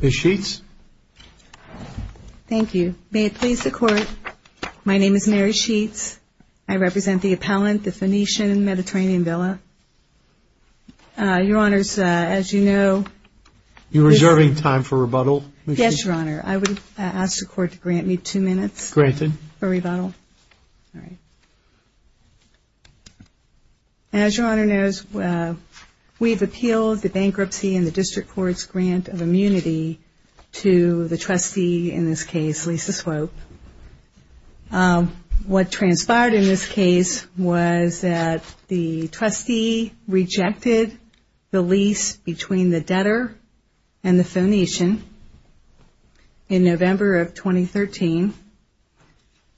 May it please the Court, my name is Mary Sheets. I represent the appellant, the Phoenician Mediterranean Villa. Your Honors, as you know... You're reserving time for rebuttal? Yes, Your Honor. I would ask the Court to grant me two minutes. Granted. For rebuttal. As Your Honor knows, we've appealed the bankruptcy and the District Court's grant of immunity to the trustee in this case, Lisa Swope. What transpired in this case was that the trustee rejected the lease between the debtor and the Phoenician in November of 2013,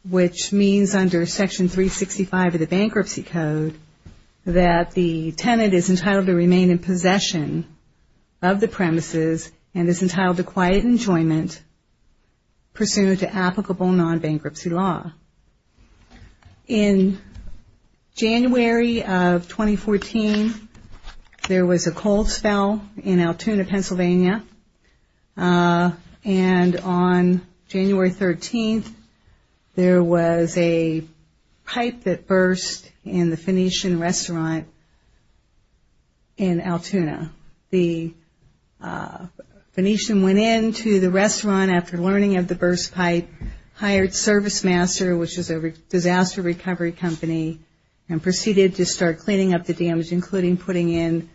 which means under Section 365 of the Bankruptcy Code that the tenant is entitled to remain in possession of the premises and is entitled to quiet enjoyment pursuant to applicable non-bankruptcy law. In January of 2014, there was a cold spell in Altoona, Pennsylvania. And on January 13th, there was a pipe that burst in the Phoenician restaurant in Altoona. The Phoenician went into the restaurant after learning of the burst pipe, hired Service Master, which is a disaster recovery company, and proceeded to start cleaning up the damage, including putting in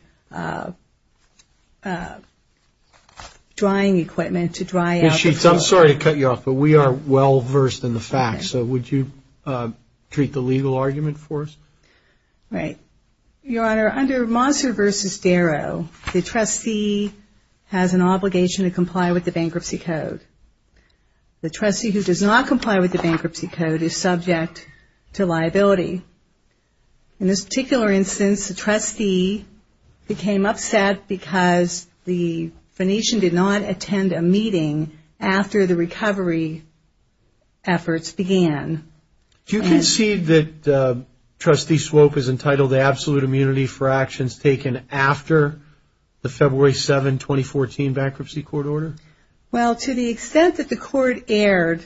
drying equipment to dry out the floor. Ms. Sheets, I'm sorry to cut you off, but we are well versed in the facts. So would you treat the legal argument for us? Right. Your Honor, under Mosser v. Darrow, the trustee has an obligation to comply with the Bankruptcy Code. The trustee who does not comply with the Bankruptcy Code is subject to liability. In this particular instance, the trustee became upset because the Phoenician did not attend a meeting after the recovery efforts began. Do you concede that Trustee Swope is entitled to absolute immunity for actions taken after the February 7, 2014 Bankruptcy Court Order? Well, to the extent that the Court erred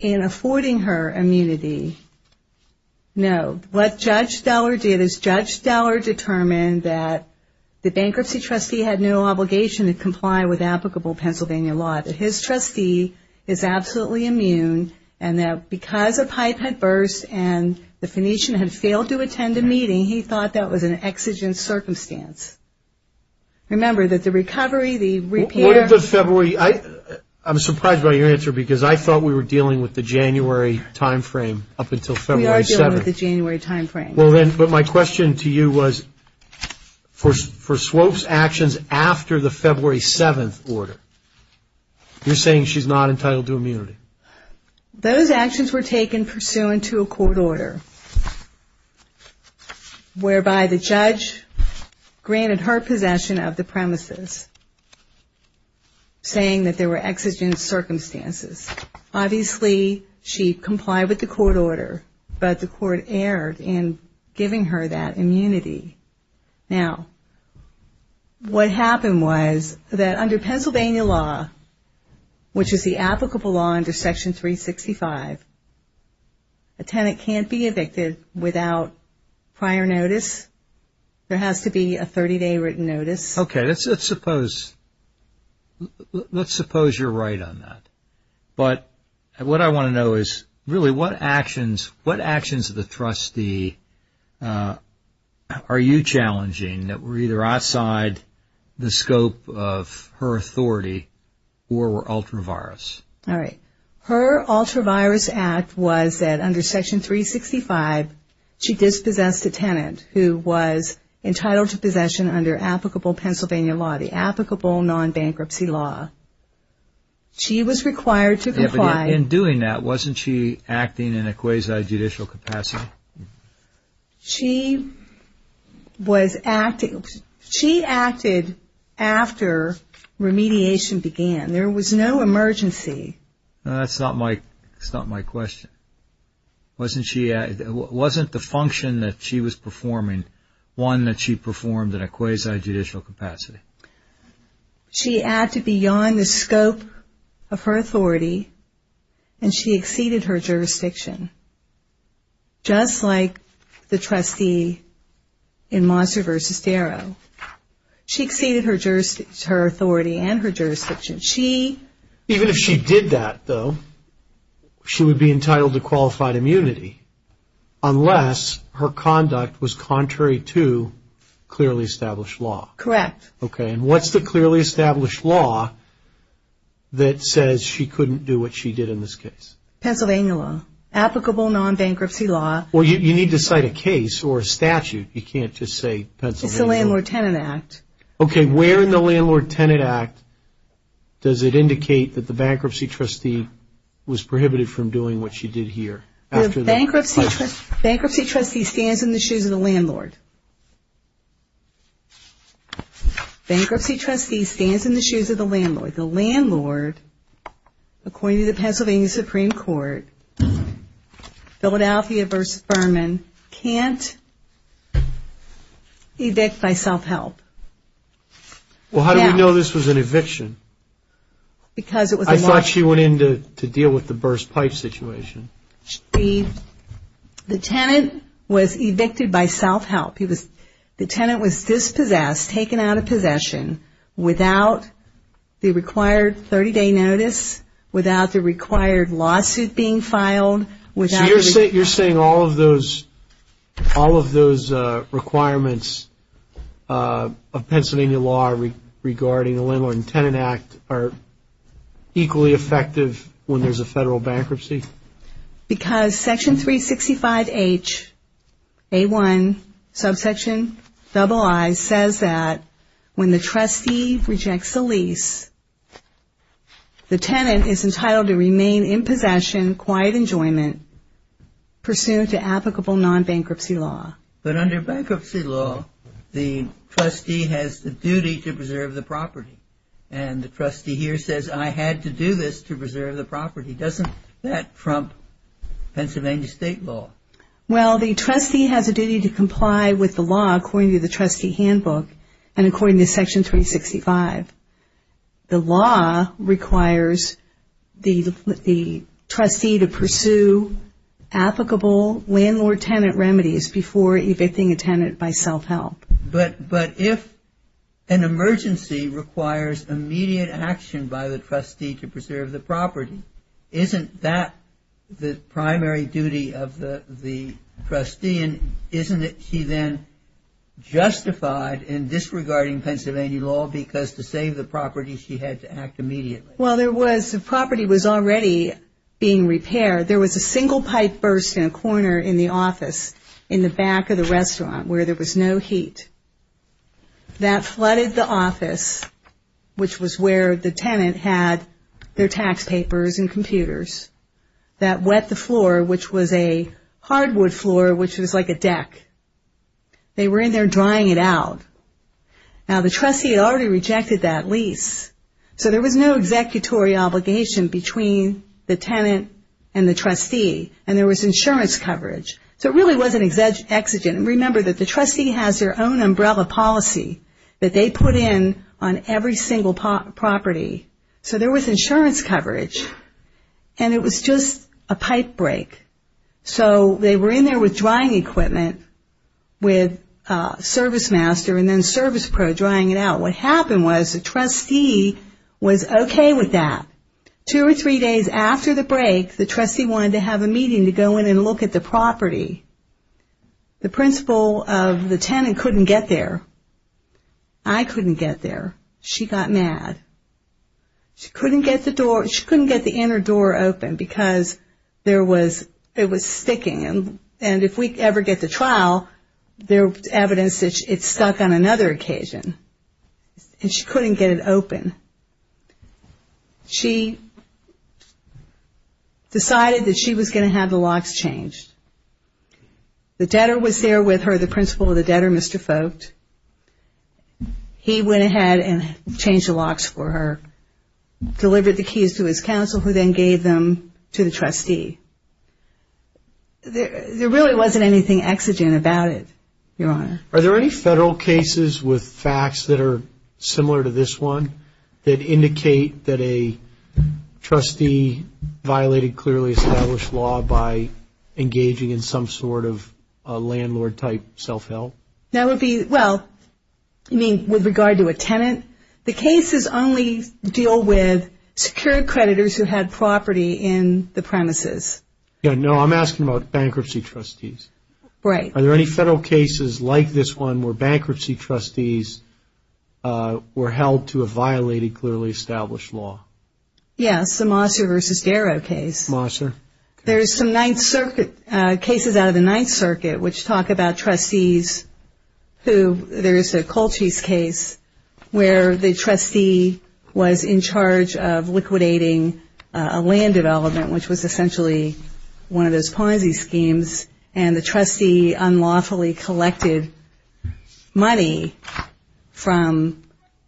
in affording her immunity, no. What Judge Stellar did is Judge Stellar determined that the bankruptcy trustee had no obligation to comply with applicable Pennsylvania law, that his trustee is absolutely immune, and that because a pipe had burst and the Phoenician had failed to attend a meeting, he thought that was an exigent circumstance. Remember that the recovery, the repair... What if the February... I'm surprised by your answer because I thought we were dealing with the January time frame up until February 7th. We are dealing with the January time frame. Well then, but my question to you was, for Swope's actions after the February 7th order, you're saying she's not entitled to immunity? Those actions were taken pursuant to a court order whereby the judge granted her possession of the premises, saying that there were exigent circumstances. Obviously, she complied with the court order, but the court erred in giving her that immunity. Now, what happened was that under Pennsylvania law, which is the applicable law under Section 365, a tenant can't be evicted without prior notice. There has to be a 30-day written notice. Okay, let's suppose you're right on that, but what I want to know is really what actions of the trustee are you challenging that were either outside the scope of her authority or were ultra-virus? Her ultra-virus act was that under Section 365, she dispossessed a tenant who was entitled to possession under applicable Pennsylvania law, the applicable non-bankruptcy law. She was required to comply... In doing that, wasn't she acting in a quasi-judicial capacity? She acted after remediation began. There was no emergency. That's not my question. Wasn't the function that she was performing one that she performed in a quasi-judicial capacity? She acted beyond the scope of her authority, and she exceeded her jurisdiction. Just like the trustee in Mosser v. Darrow. She exceeded her authority and her jurisdiction. Even if she did that, though, she would be entitled to qualified immunity unless her conduct was contrary to clearly established law. Correct. What's the clearly established law that says she couldn't do what she did in this case? Pennsylvania law. Applicable non-bankruptcy law. You need to cite a case or a statute. You can't just say Pennsylvania law. It's the Landlord-Tenant Act. Where in the Landlord-Tenant Act does it indicate that the bankruptcy trustee was prohibited from doing what she did here? The bankruptcy trustee stands in the shoes of the landlord. The landlord, according to the Pennsylvania Supreme Court, Philadelphia v. Furman, can't evict by self-help. Well, how do we know this was an eviction? I thought she went in to deal with the burst pipe situation. The tenant was evicted by self-help. The tenant was dispossessed, taken out of possession, without the required 30-day notice, without the required lawsuit being filed. So you're saying all of those requirements of Pennsylvania law regarding the Landlord-Tenant Act are equally effective when there's a federal bankruptcy? Because Section 365H, A1, Subsection II says that when the trustee rejects a lease, the tenant is entitled to remain in possession, quiet enjoyment, pursuant to applicable non-bankruptcy law. But under bankruptcy law, the trustee has the duty to preserve the property. And the trustee here says, I had to do this to preserve the property. Doesn't that trump Pennsylvania state law? Well, the trustee has a duty to comply with the law according to the trustee handbook and according to Section 365. The law requires the trustee to pursue applicable landlord-tenant remedies before evicting a tenant by self-help. But if an emergency requires immediate action by the trustee to preserve the property, isn't that the primary duty of the trustee, and isn't it she then justified in disregarding Pennsylvania law because to save the property she had to act immediately? Well, the property was already being repaired. There was a single pipe burst in a corner in the office in the back of the restaurant where there was no heat. That flooded the office, which was where the tenant had their tax papers and computers. That wet the floor, which was a hardwood floor, which was like a deck. They were in there drying it out. Now the trustee had already rejected that lease, so there was no executory obligation between the tenant and the trustee, and there was insurance coverage. So it really was an exigent. Remember that the trustee has their own umbrella policy that they put in on every single property. So there was insurance coverage, and it was just a pipe break. So they were in there with drying equipment with ServiceMaster and then ServicePro drying it out. What happened was the trustee was okay with that. Two or three days after the break, the trustee wanted to have a meeting to go in and look at the property. The principal of the tenant couldn't get there. I couldn't get there. She got mad. She couldn't get the inner door open because it was sticking, and if we ever get to trial, there was evidence that it stuck on another occasion, and she couldn't get it open. She decided that she was going to have the locks changed. The debtor was there with her, the principal of the debtor, Mr. Folkt. He went ahead and changed the locks for her, delivered the keys to his counsel who then gave them to the trustee. There really wasn't anything exigent about it, Your Honor. Are there any federal cases with facts that are similar to this one that indicate that a trustee violated clearly established law by engaging in some sort of landlord-type self-help? Well, you mean with regard to a tenant? The cases only deal with secured creditors who had property in the premises. No, I'm asking about bankruptcy trustees. Right. Are there any federal cases like this one where bankruptcy trustees were held to a violated clearly established law? Yes, the Mosser v. Darrow case. Mosser. There's some Ninth Circuit cases out of the Ninth Circuit which talk about trustees who there is a Colchis case where the trustee was in charge of liquidating a land development, which was essentially one of those Ponzi schemes, and the trustee unlawfully collected money from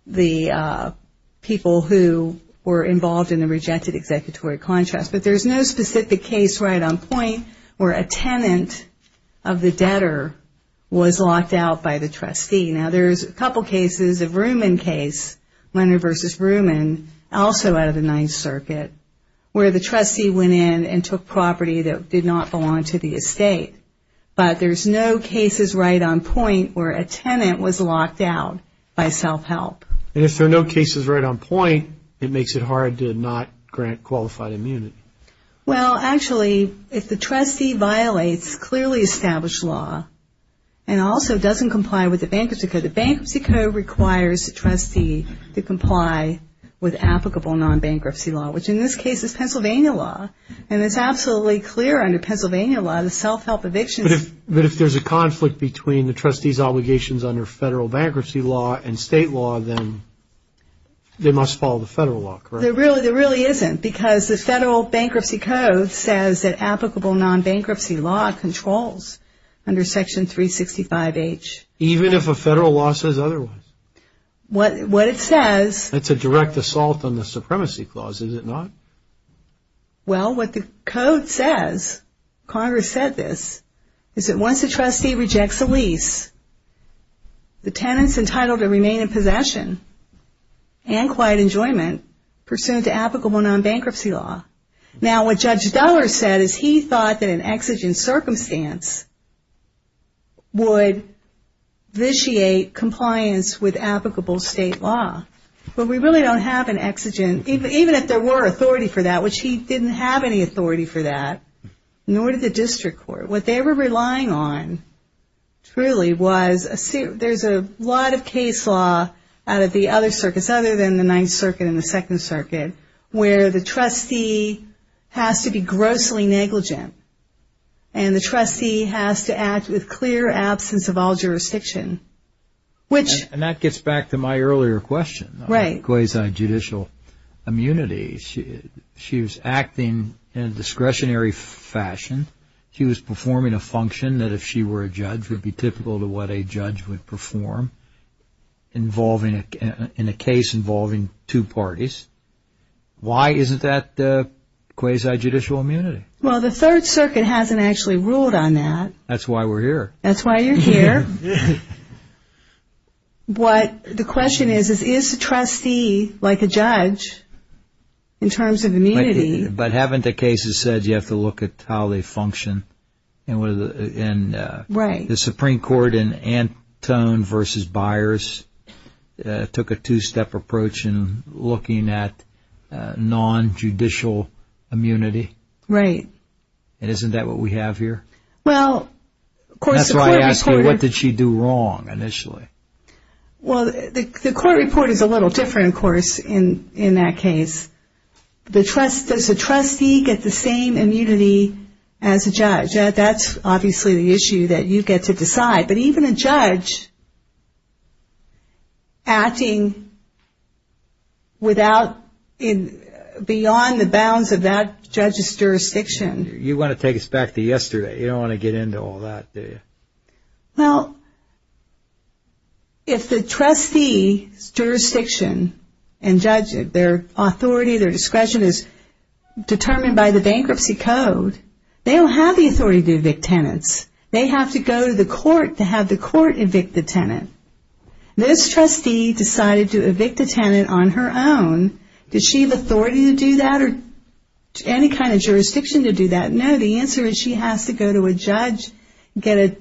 the people who were involved in the rejected executory contracts. But there's no specific case right on point where a tenant of the debtor was locked out by the trustee. Now, there's a couple cases, a Vrooman case, Leonard v. Vrooman, also out of the Ninth Circuit, where the trustee went in and took property that did not belong to the estate. But there's no cases right on point where a tenant was locked out by self-help. And if there are no cases right on point, it makes it hard to not grant qualified immunity. Well, actually, if the trustee violates clearly established law and also doesn't comply with the Bankruptcy Code, the Bankruptcy Code requires the trustee to comply with applicable non-bankruptcy law, which in this case is Pennsylvania law. And it's absolutely clear under Pennsylvania law that self-help evictions... But if there's a conflict between the trustee's obligations under federal bankruptcy law and state law, then they must follow the federal law, correct? There really isn't, because the Federal Bankruptcy Code says that applicable non-bankruptcy law controls under Section 365H. Even if a federal law says otherwise? What it says... That's a direct assault on the Supremacy Clause, is it not? Well, what the Code says, Congress said this, is that once a trustee rejects a lease, the tenant's entitled to remain in possession and quiet enjoyment pursuant to applicable non-bankruptcy law. Now, what Judge Duller said is he thought that an exigent circumstance would vitiate compliance with applicable state law. But we really don't have an exigent... Even if there were authority for that, which he didn't have any authority for that, nor did the District Court. What they were relying on, truly, was... There's a lot of case law out of the other circuits, other than the Ninth Circuit and the Second Circuit, where the trustee has to be grossly negligent. And the trustee has to act with clear absence of all jurisdiction. And that gets back to my earlier question, quasi-judicial immunity. She was acting in a discretionary fashion. She was performing a function that, if she were a judge, would be typical to what a judge would perform in a case involving two parties. Why isn't that quasi-judicial immunity? Well, the Third Circuit hasn't actually ruled on that. That's why we're here. That's why you're here. What the question is, is the trustee, like a judge, in terms of immunity... But haven't the cases said you have to look at how they function? Right. The Supreme Court in Antone v. Byers took a two-step approach in looking at non-judicial immunity. Right. And isn't that what we have here? That's why I asked you, what did she do wrong initially? Well, the court report is a little different, of course, in that case. Does a trustee get the same immunity as a judge? That's obviously the issue that you get to decide. But even a judge acting beyond the bounds of that judge's jurisdiction... You want to take us back to yesterday. You don't want to get into all that, do you? Well, if the trustee's jurisdiction and judge, their authority, their discretion, is determined by the bankruptcy code, they don't have the authority to evict tenants. They have to go to the court to have the court evict the tenant. This trustee decided to evict a tenant on her own. Did she have authority to do that or any kind of jurisdiction to do that? No. The answer is she has to go to a judge, get a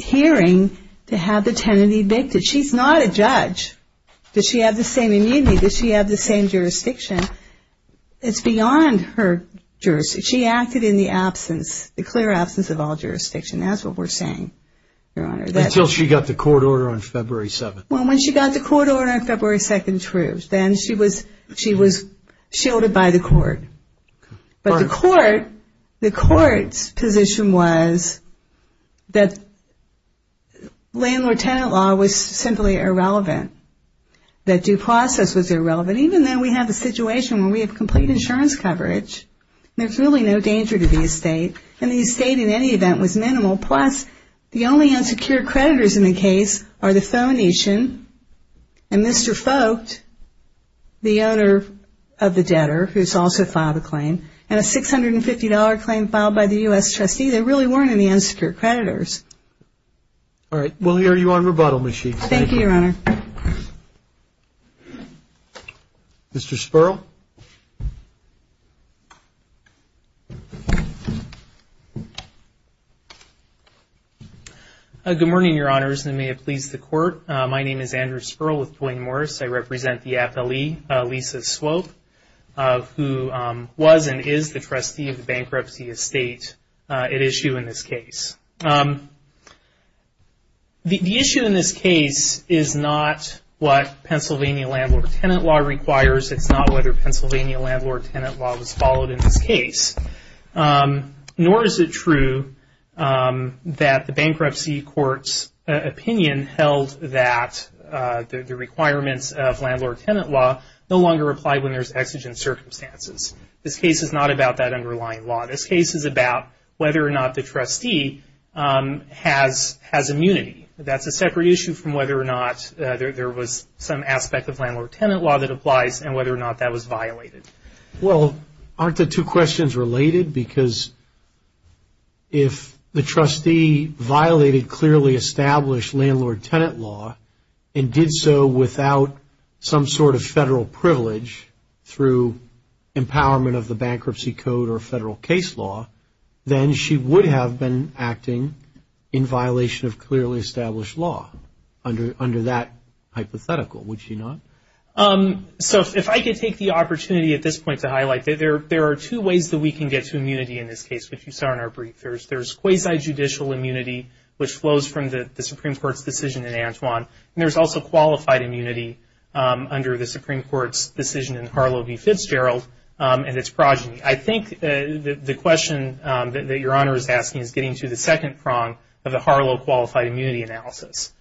hearing to have the tenant evicted. She's not a judge. Does she have the same immunity? Does she have the same jurisdiction? It's beyond her jurisdiction. She acted in the absence, the clear absence of all jurisdiction. That's what we're saying, Your Honor. Until she got the court order on February 7th. Well, when she got the court order on February 2nd, then she was shielded by the court. But the court's position was that landlord-tenant law was simply irrelevant, that due process was irrelevant. Even though we have a situation where we have complete insurance coverage, there's really no danger to the estate, and the estate in any event was minimal. Plus, the only unsecured creditors in the case are the Pho Nation and Mr. Folkt, the owner of the debtor who's also filed a claim, and a $650 claim filed by the U.S. trustee. There really weren't any unsecured creditors. All right. We'll hear you on rebuttal, Ms. Sheets. Thank you, Your Honor. Mr. Sperl. Good morning, Your Honors, and may it please the court. My name is Andrew Sperl with Duane Morris. I represent the FLE, Lisa Swope, who was and is the trustee of the bankruptcy estate at issue in this case. The issue in this case is not what Pennsylvania landlord-tenant law requires. It's not whether Pennsylvania landlord-tenant law was followed in this case, nor is it true that the bankruptcy court's opinion held that the requirements of landlord-tenant law no longer apply when there's exigent circumstances. This case is not about that underlying law. This case is about whether or not the trustee has immunity. That's a separate issue from whether or not there was some aspect of landlord-tenant law that applies and whether or not that was violated. Well, aren't the two questions related? Because if the trustee violated clearly established landlord-tenant law and did so without some sort of federal privilege through empowerment of the bankruptcy code or federal case law, then she would have been acting in violation of clearly established law under that hypothetical, would she not? So if I could take the opportunity at this point to highlight, there are two ways that we can get to immunity in this case, which you saw in our brief. There's quasi-judicial immunity, which flows from the Supreme Court's decision in Antwon, and there's also qualified immunity under the Supreme Court's decision in Harlow v. Fitzgerald and its progeny. I think the question that your Honor is asking is getting to the second prong of the Harlow qualified immunity analysis.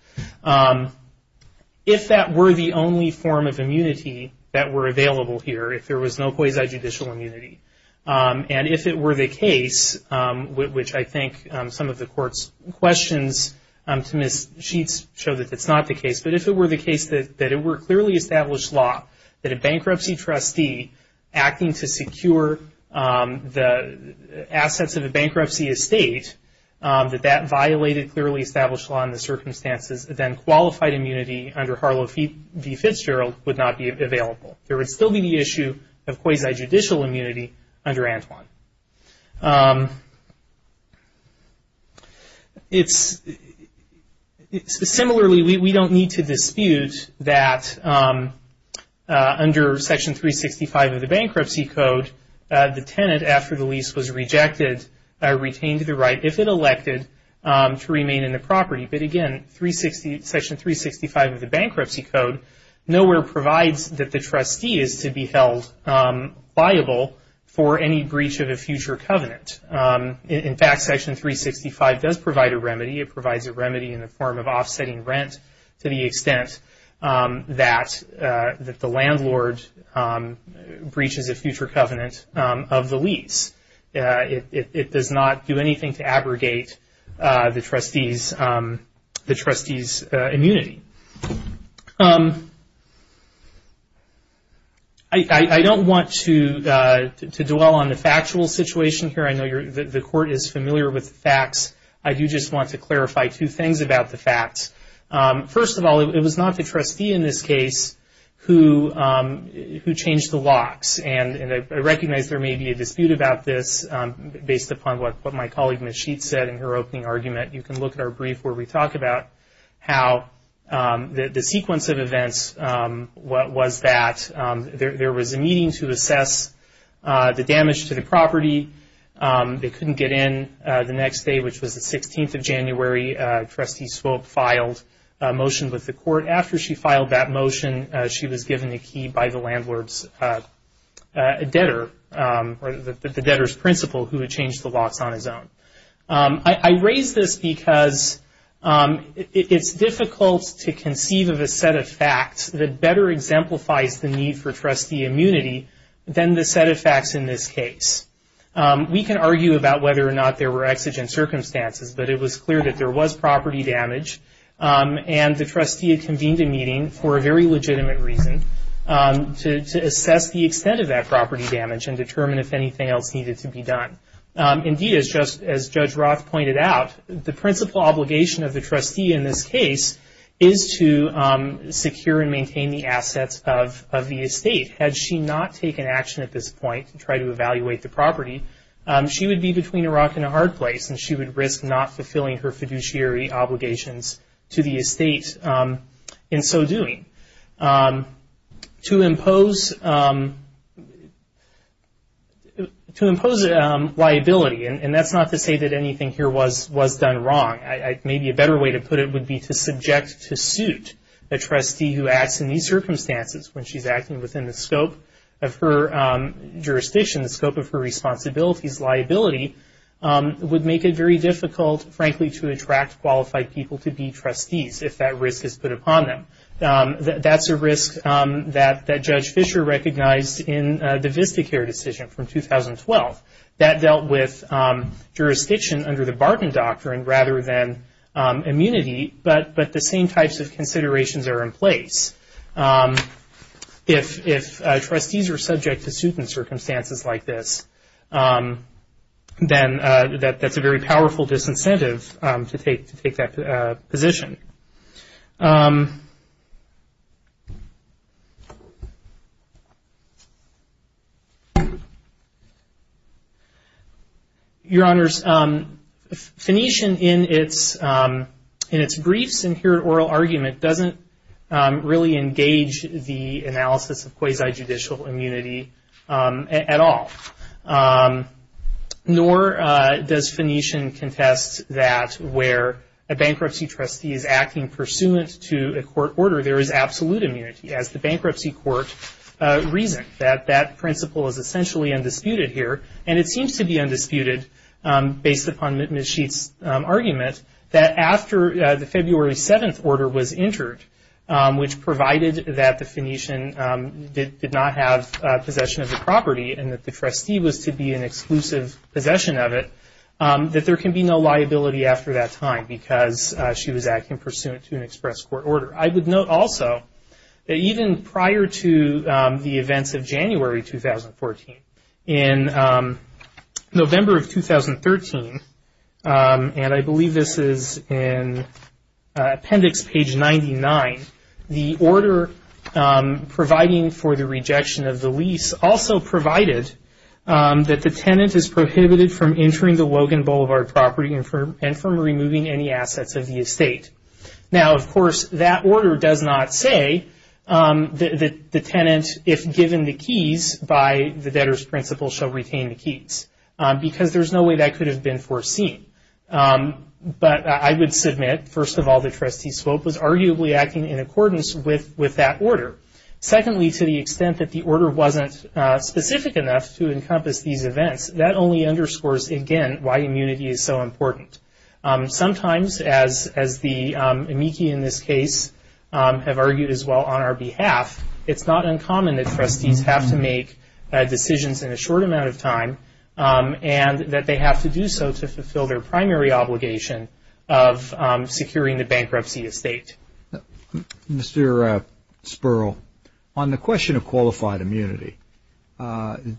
If that were the only form of immunity that were available here, if there was no quasi-judicial immunity, and if it were the case, which I think some of the Court's questions to Ms. Sheets show that it's not the case, but if it were the case that it were clearly established law that a bankruptcy trustee acting to secure the assets of a bankruptcy estate, that that violated clearly established law in the circumstances, then qualified immunity under Harlow v. Fitzgerald would not be available. There would still be the issue of quasi-judicial immunity under Antwon. Similarly, we don't need to dispute that under Section 365 of the Bankruptcy Code, the tenant, after the lease was rejected, retained the right, if it elected, to remain in the property. But again, Section 365 of the Bankruptcy Code nowhere provides that the trustee is to be held viable for any breach of a future covenant. In fact, Section 365 does provide a remedy. It provides a remedy in the form of offsetting rent to the extent that the landlord breaches a future covenant of the lease. It does not do anything to abrogate the trustee's immunity. I don't want to dwell on the factual situation here. I know the Court is familiar with the facts. I do just want to clarify two things about the facts. First of all, it was not the trustee in this case who changed the locks, and I recognize there may be a dispute about this based upon what my colleague, Ms. Sheets, said in her opening argument. You can look at our brief where we talk about how the sequence of events was that. There was a meeting to assess the damage to the property. They couldn't get in the next day, which was the 16th of January. Trustee Swope filed a motion with the Court. After she filed that motion, she was given a key by the landlord's debtor, or the debtor's principal, who had changed the locks on his own. I raise this because it's difficult to conceive of a set of facts that better exemplifies the need for trustee immunity than the set of facts in this case. We can argue about whether or not there were exigent circumstances, but it was clear that there was property damage, and the trustee convened a meeting for a very legitimate reason to assess the extent of that property damage and determine if anything else needed to be done. Indeed, as Judge Roth pointed out, the principal obligation of the trustee in this case is to secure and maintain the assets of the estate. Had she not taken action at this point to try to evaluate the property, she would be between a rock and a hard place, and she would risk not fulfilling her fiduciary obligations to the estate in so doing. To impose liability, and that's not to say that anything here was done wrong. Maybe a better way to put it would be to subject to suit the trustee who acts in these circumstances when she's acting within the scope of her jurisdiction, the scope of her responsibilities. Liability would make it very difficult, frankly, to attract qualified people to be trustees if that risk is put upon them. That's a risk that Judge Fischer recognized in the Vistacare decision from 2012. That dealt with jurisdiction under the Barton doctrine rather than immunity, but the same types of considerations are in place. If trustees are subject to suit in circumstances like this, then that's a very powerful disincentive to take that position. Your Honors, Phoenician in its briefs and here at oral argument doesn't really engage the analysis of quasi-judicial immunity at all. Nor does Phoenician contest that where a bankruptcy trustee is acting pursuant to a court order, there is absolute immunity as the bankruptcy court reasoned. That principle is essentially undisputed here, and it seems to be undisputed based upon Ms. Sheets' argument that after the February 7th order was entered, which provided that the Phoenician did not have possession of the property and that the trustee was to be in exclusive possession of it, that there can be no liability after that time because she was acting pursuant to an express court order. I would note also that even prior to the events of January 2014, in November of 2013, and I believe this is in appendix page 99, the order providing for the rejection of the lease also provided that the tenant is prohibited from entering the Logan Boulevard property and from removing any assets of the estate. Now, of course, that order does not say that the tenant, if given the keys by the debtor's principle, shall retain the keys because there's no way that could have been foreseen. But I would submit, first of all, the trustee's scope was arguably acting in accordance with that order. Secondly, to the extent that the order wasn't specific enough to encompass these events, that only underscores, again, why immunity is so important. Sometimes, as the amici in this case have argued as well on our behalf, it's not uncommon that trustees have to make decisions in a short amount of time and that they have to do so to fulfill their primary obligation of securing the bankruptcy estate. Mr. Sperl, on the question of qualified immunity,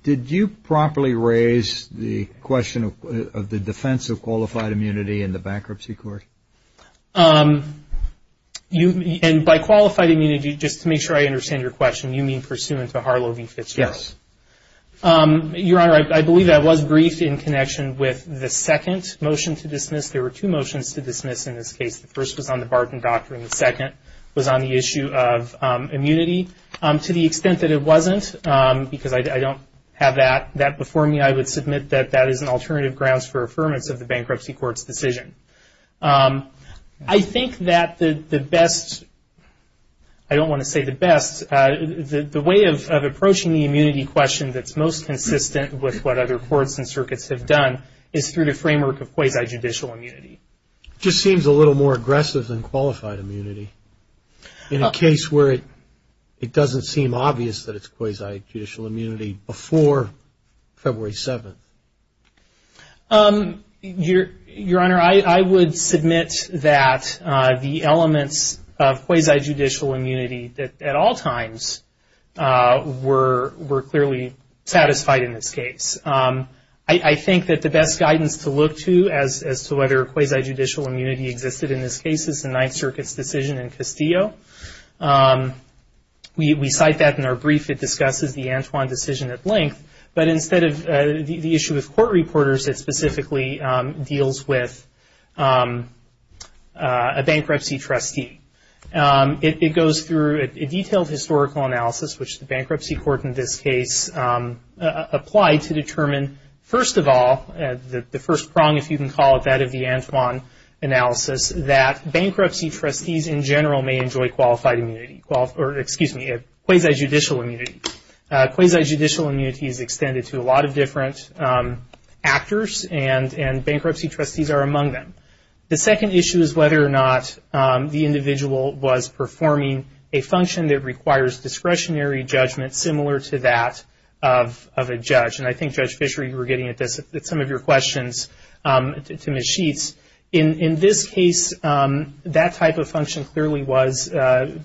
did you properly raise the question of the defense of qualified immunity in the bankruptcy court? And by qualified immunity, just to make sure I understand your question, you mean pursuant to Harlow v. Fitzgerald? Yes. Your Honor, I believe I was briefed in connection with the second motion to dismiss. There were two motions to dismiss in this case. The first was on the Barton Doctrine. The second was on the issue of immunity. To the extent that it wasn't, because I don't have that before me, I would submit that that is an alternative grounds for affirmance of the bankruptcy court's decision. I think that the best, I don't want to say the best, the way of approaching the immunity question that's most consistent with what other courts and circuits have done is through the framework of quasi-judicial immunity. It just seems a little more aggressive than qualified immunity in a case where it doesn't seem obvious that it's quasi-judicial immunity before February 7th. Your Honor, I would submit that the elements of quasi-judicial immunity at all times were clearly satisfied in this case. I think that the best guidance to look to as to whether quasi-judicial immunity existed in this case is the Ninth Circuit's decision in Castillo. We cite that in our brief. But instead of the issue with court reporters, it specifically deals with a bankruptcy trustee. It goes through a detailed historical analysis, which the bankruptcy court in this case applied to determine, first of all, the first prong, if you can call it that, of the Antoine analysis, that bankruptcy trustees in general may enjoy qualified immunity, or excuse me, quasi-judicial immunity. Quasi-judicial immunity is extended to a lot of different actors, and bankruptcy trustees are among them. The second issue is whether or not the individual was performing a function that requires discretionary judgment similar to that of a judge. And I think, Judge Fisher, you were getting at some of your questions to Ms. Sheets. In this case, that type of function clearly was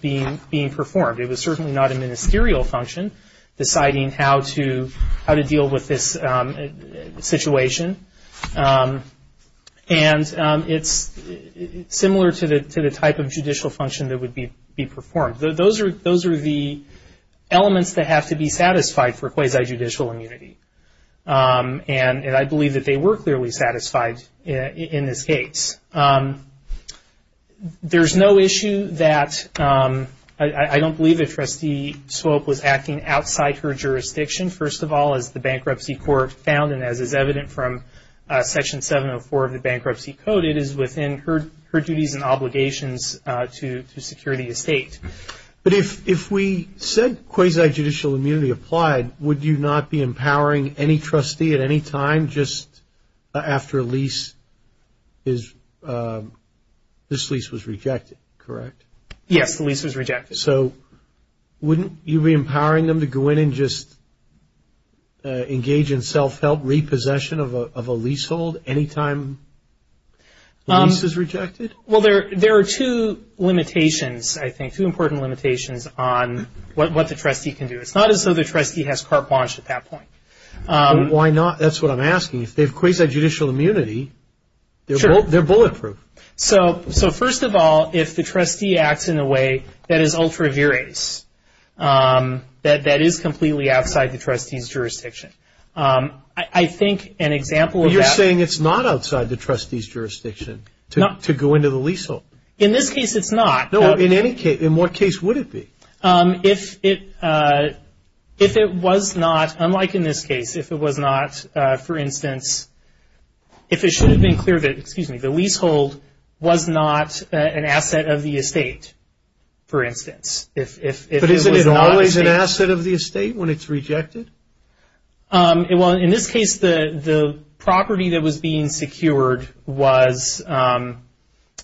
being performed. It was certainly not a ministerial function deciding how to deal with this situation, and it's similar to the type of judicial function that would be performed. Those are the elements that have to be satisfied for quasi-judicial immunity, and I believe that they were clearly satisfied in this case. There's no issue that I don't believe that Trustee Swope was acting outside her jurisdiction. First of all, as the bankruptcy court found, and as is evident from Section 704 of the Bankruptcy Code, it is within her duties and obligations to security the state. But if we said quasi-judicial immunity applied, would you not be empowering any trustee at any time just after this lease was rejected, correct? Yes, the lease was rejected. So wouldn't you be empowering them to go in and just engage in self-help repossession of a leasehold any time the lease is rejected? Well, there are two limitations, I think, two important limitations on what the trustee can do. It's not as though the trustee has carte blanche at that point. Why not? That's what I'm asking. If they have quasi-judicial immunity, they're bulletproof. So first of all, if the trustee acts in a way that is ultra-veris, that is completely outside the trustee's jurisdiction, I think an example of that- You're saying it's not outside the trustee's jurisdiction to go into the leasehold. In this case, it's not. No, in any case. In what case would it be? If it was not, unlike in this case, if it was not, for instance, if it should have been clear that the leasehold was not an asset of the estate, for instance. But isn't it always an asset of the estate when it's rejected? Well, in this case, the property that was being secured was part-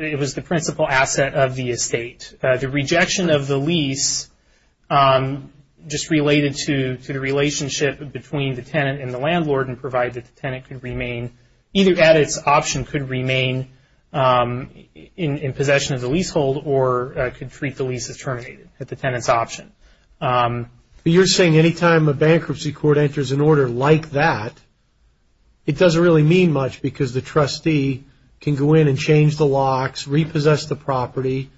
it was the principal asset of the estate. The rejection of the lease just related to the relationship between the tenant and the landlord and provided that the tenant could remain, either at its option could remain in possession of the leasehold or could treat the lease as terminated at the tenant's option. You're saying any time a bankruptcy court enters an order like that, it doesn't really mean much because the trustee can go in and change the locks, repossess the property,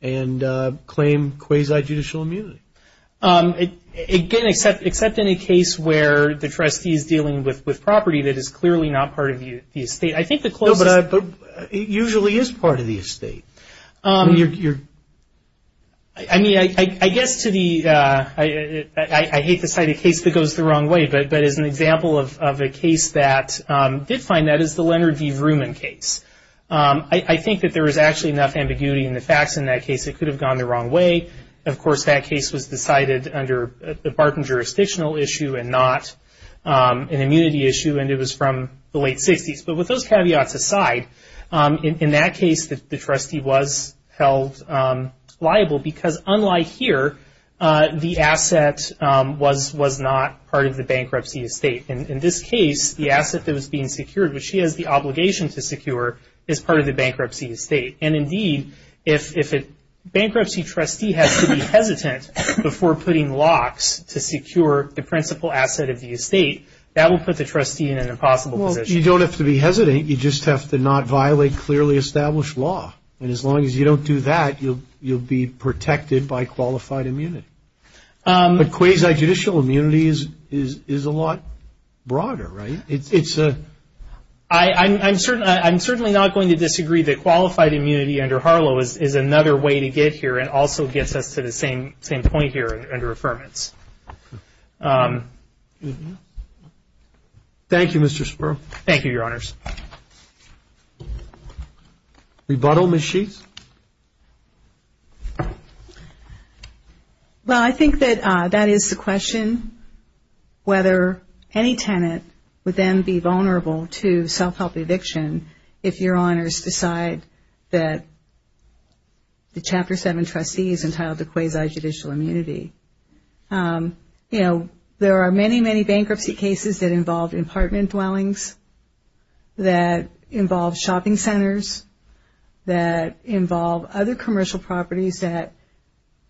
and claim quasi-judicial immunity. Again, except in a case where the trustee is dealing with property that is clearly not part of the estate. I think the closest- No, but it usually is part of the estate. I mean, I guess to the- I hate to cite a case that goes the wrong way, but as an example of a case that did find that is the Leonard V. Vrooman case. I think that there is actually enough ambiguity in the facts in that case. It could have gone the wrong way. Of course, that case was decided under the Barton jurisdictional issue and not an immunity issue, and it was from the late 60s. But with those caveats aside, in that case, the trustee was held liable because unlike here, the asset was not part of the bankruptcy estate. In this case, the asset that was being secured, which he has the obligation to secure, is part of the bankruptcy estate. And indeed, if a bankruptcy trustee has to be hesitant before putting locks to secure the principal asset of the estate, that will put the trustee in an impossible position. But you don't have to be hesitant. You just have to not violate clearly established law. And as long as you don't do that, you'll be protected by qualified immunity. But quasi-judicial immunity is a lot broader, right? It's a- I'm certainly not going to disagree that qualified immunity under Harlow is another way to get here and also gets us to the same point here under affirmance. Thank you, Mr. Spurl. Thank you, Your Honors. Rebuttal, Ms. Sheets? Well, I think that that is the question, whether any tenant would then be vulnerable to self-help eviction if Your Honors decide that the Chapter 7 trustee is entitled to quasi-judicial immunity. You know, there are many, many bankruptcy cases that involve apartment dwellings, that involve shopping centers, that involve other commercial properties that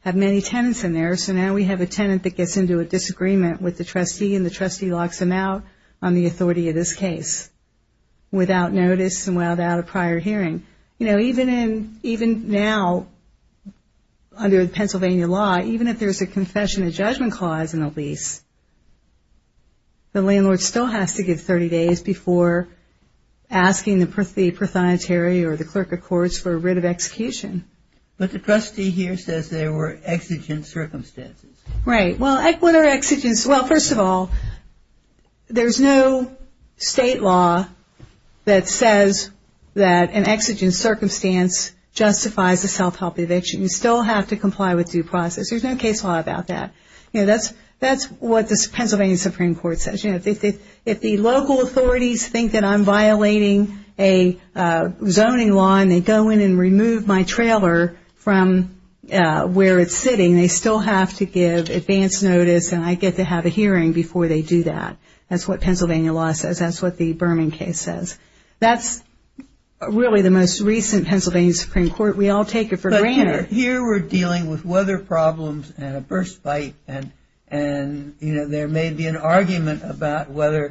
have many tenants in there. So now we have a tenant that gets into a disagreement with the trustee and the trustee locks them out on the authority of this case without notice and without a prior hearing. You know, even now under the Pennsylvania law, even if there's a confession of judgment clause in a lease, the landlord still has to give 30 days before asking the prothonotary or the clerk of courts for a writ of execution. But the trustee here says there were exigent circumstances. Right. Well, what are exigents? Well, first of all, there's no state law that says that an exigent circumstance justifies a self-help eviction. You still have to comply with due process. There's no case law about that. That's what the Pennsylvania Supreme Court says. If the local authorities think that I'm violating a zoning law and they go in and remove my trailer from where it's sitting, they still have to give advance notice and I get to have a hearing before they do that. That's what Pennsylvania law says. That's what the Berman case says. That's really the most recent Pennsylvania Supreme Court. We all take it for granted. But here we're dealing with weather problems and a burst pipe and, you know, there may be an argument about whether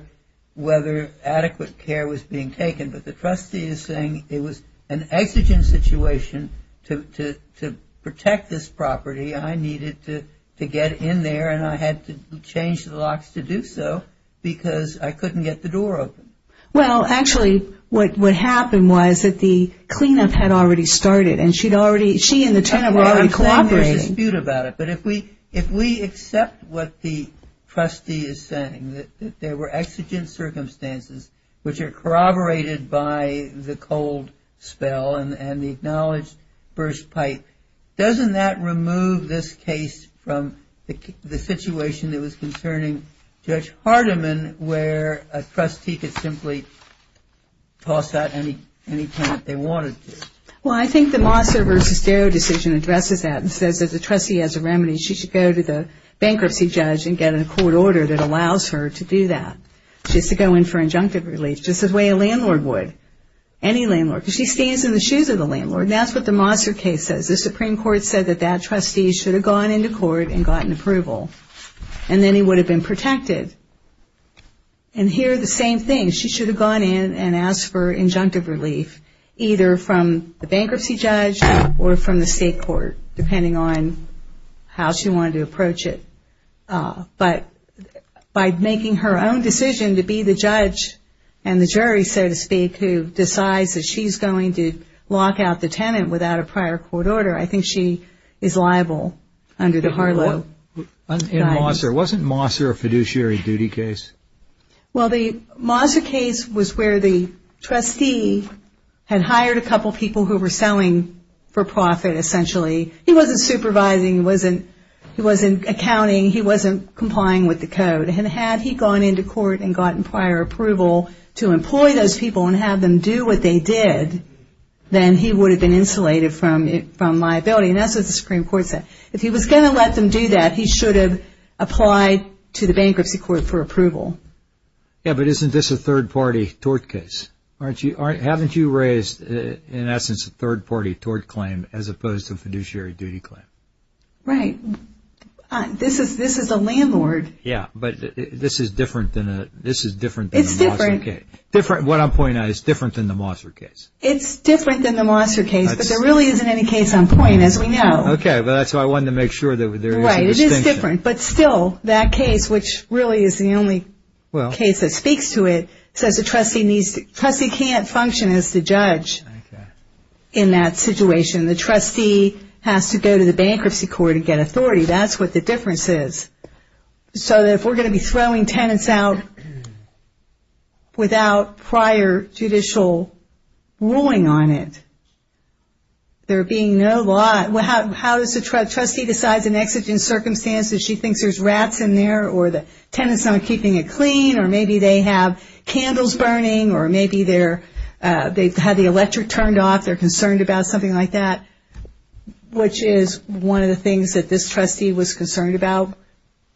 adequate care was being taken, but the trustee is saying it was an exigent situation to protect this property. I needed to get in there and I had to change the locks to do so because I couldn't get the door open. Well, actually, what happened was that the cleanup had already started and she and the tenant were already cooperating. But if we accept what the trustee is saying, that there were exigent circumstances which are corroborated by the cold spell and the acknowledged burst pipe, doesn't that remove this case from the situation that was concerning Judge Hardiman where a trustee could simply toss out any tenant they wanted to? Well, I think the Mosser v. Darrow decision addresses that and says that the trustee has a remedy. She should go to the bankruptcy judge and get a court order that allows her to do that, just to go in for injunctive relief, just the way a landlord would, any landlord. She stands in the shoes of the landlord and that's what the Mosser case says. The Supreme Court said that that trustee should have gone into court and gotten approval and then he would have been protected. And here the same thing. She should have gone in and asked for injunctive relief, either from the bankruptcy judge or from the state court, depending on how she wanted to approach it. But by making her own decision to be the judge and the jury, so to speak, who decides that she's going to lock out the tenant without a prior court order, I think she is liable under the Harlow. And Mosser, wasn't Mosser a fiduciary duty case? Well, the Mosser case was where the trustee had hired a couple people who were selling for profit, essentially. He wasn't supervising, he wasn't accounting, he wasn't complying with the code. And had he gone into court and gotten prior approval to employ those people and have them do what they did, then he would have been insulated from liability. And that's what the Supreme Court said. If he was going to let them do that, he should have applied to the bankruptcy court for approval. Yeah, but isn't this a third-party tort case? Haven't you raised, in essence, a third-party tort claim as opposed to a fiduciary duty claim? Right. This is a landlord. It's different. What I'm pointing out is different than the Mosser case. It's different than the Mosser case, but there really isn't any case on point, as we know. Okay, but that's why I wanted to make sure that there is a distinction. Right, it is different. But still, that case, which really is the only case that speaks to it, says the trustee can't function as the judge in that situation. The trustee has to go to the bankruptcy court and get authority. That's what the difference is. So if we're going to be throwing tenants out without prior judicial ruling on it, there being no law, how does the trustee decide in exigent circumstances, she thinks there's rats in there or the tenant's not keeping it clean or maybe they have candles burning or maybe they've had the electric turned off, they're concerned about something like that, which is one of the things that this trustee was concerned about,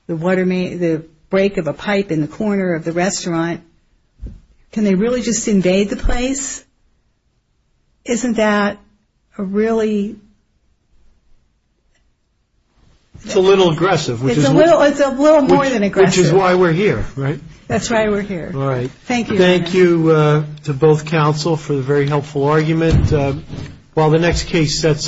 the break of a pipe in the corner of the restaurant. Can they really just invade the place? Isn't that a really? It's a little aggressive. It's a little more than aggressive. Which is why we're here, right? That's why we're here. All right. Thank you. Thank you to both counsel for the very helpful argument. While the next case sets.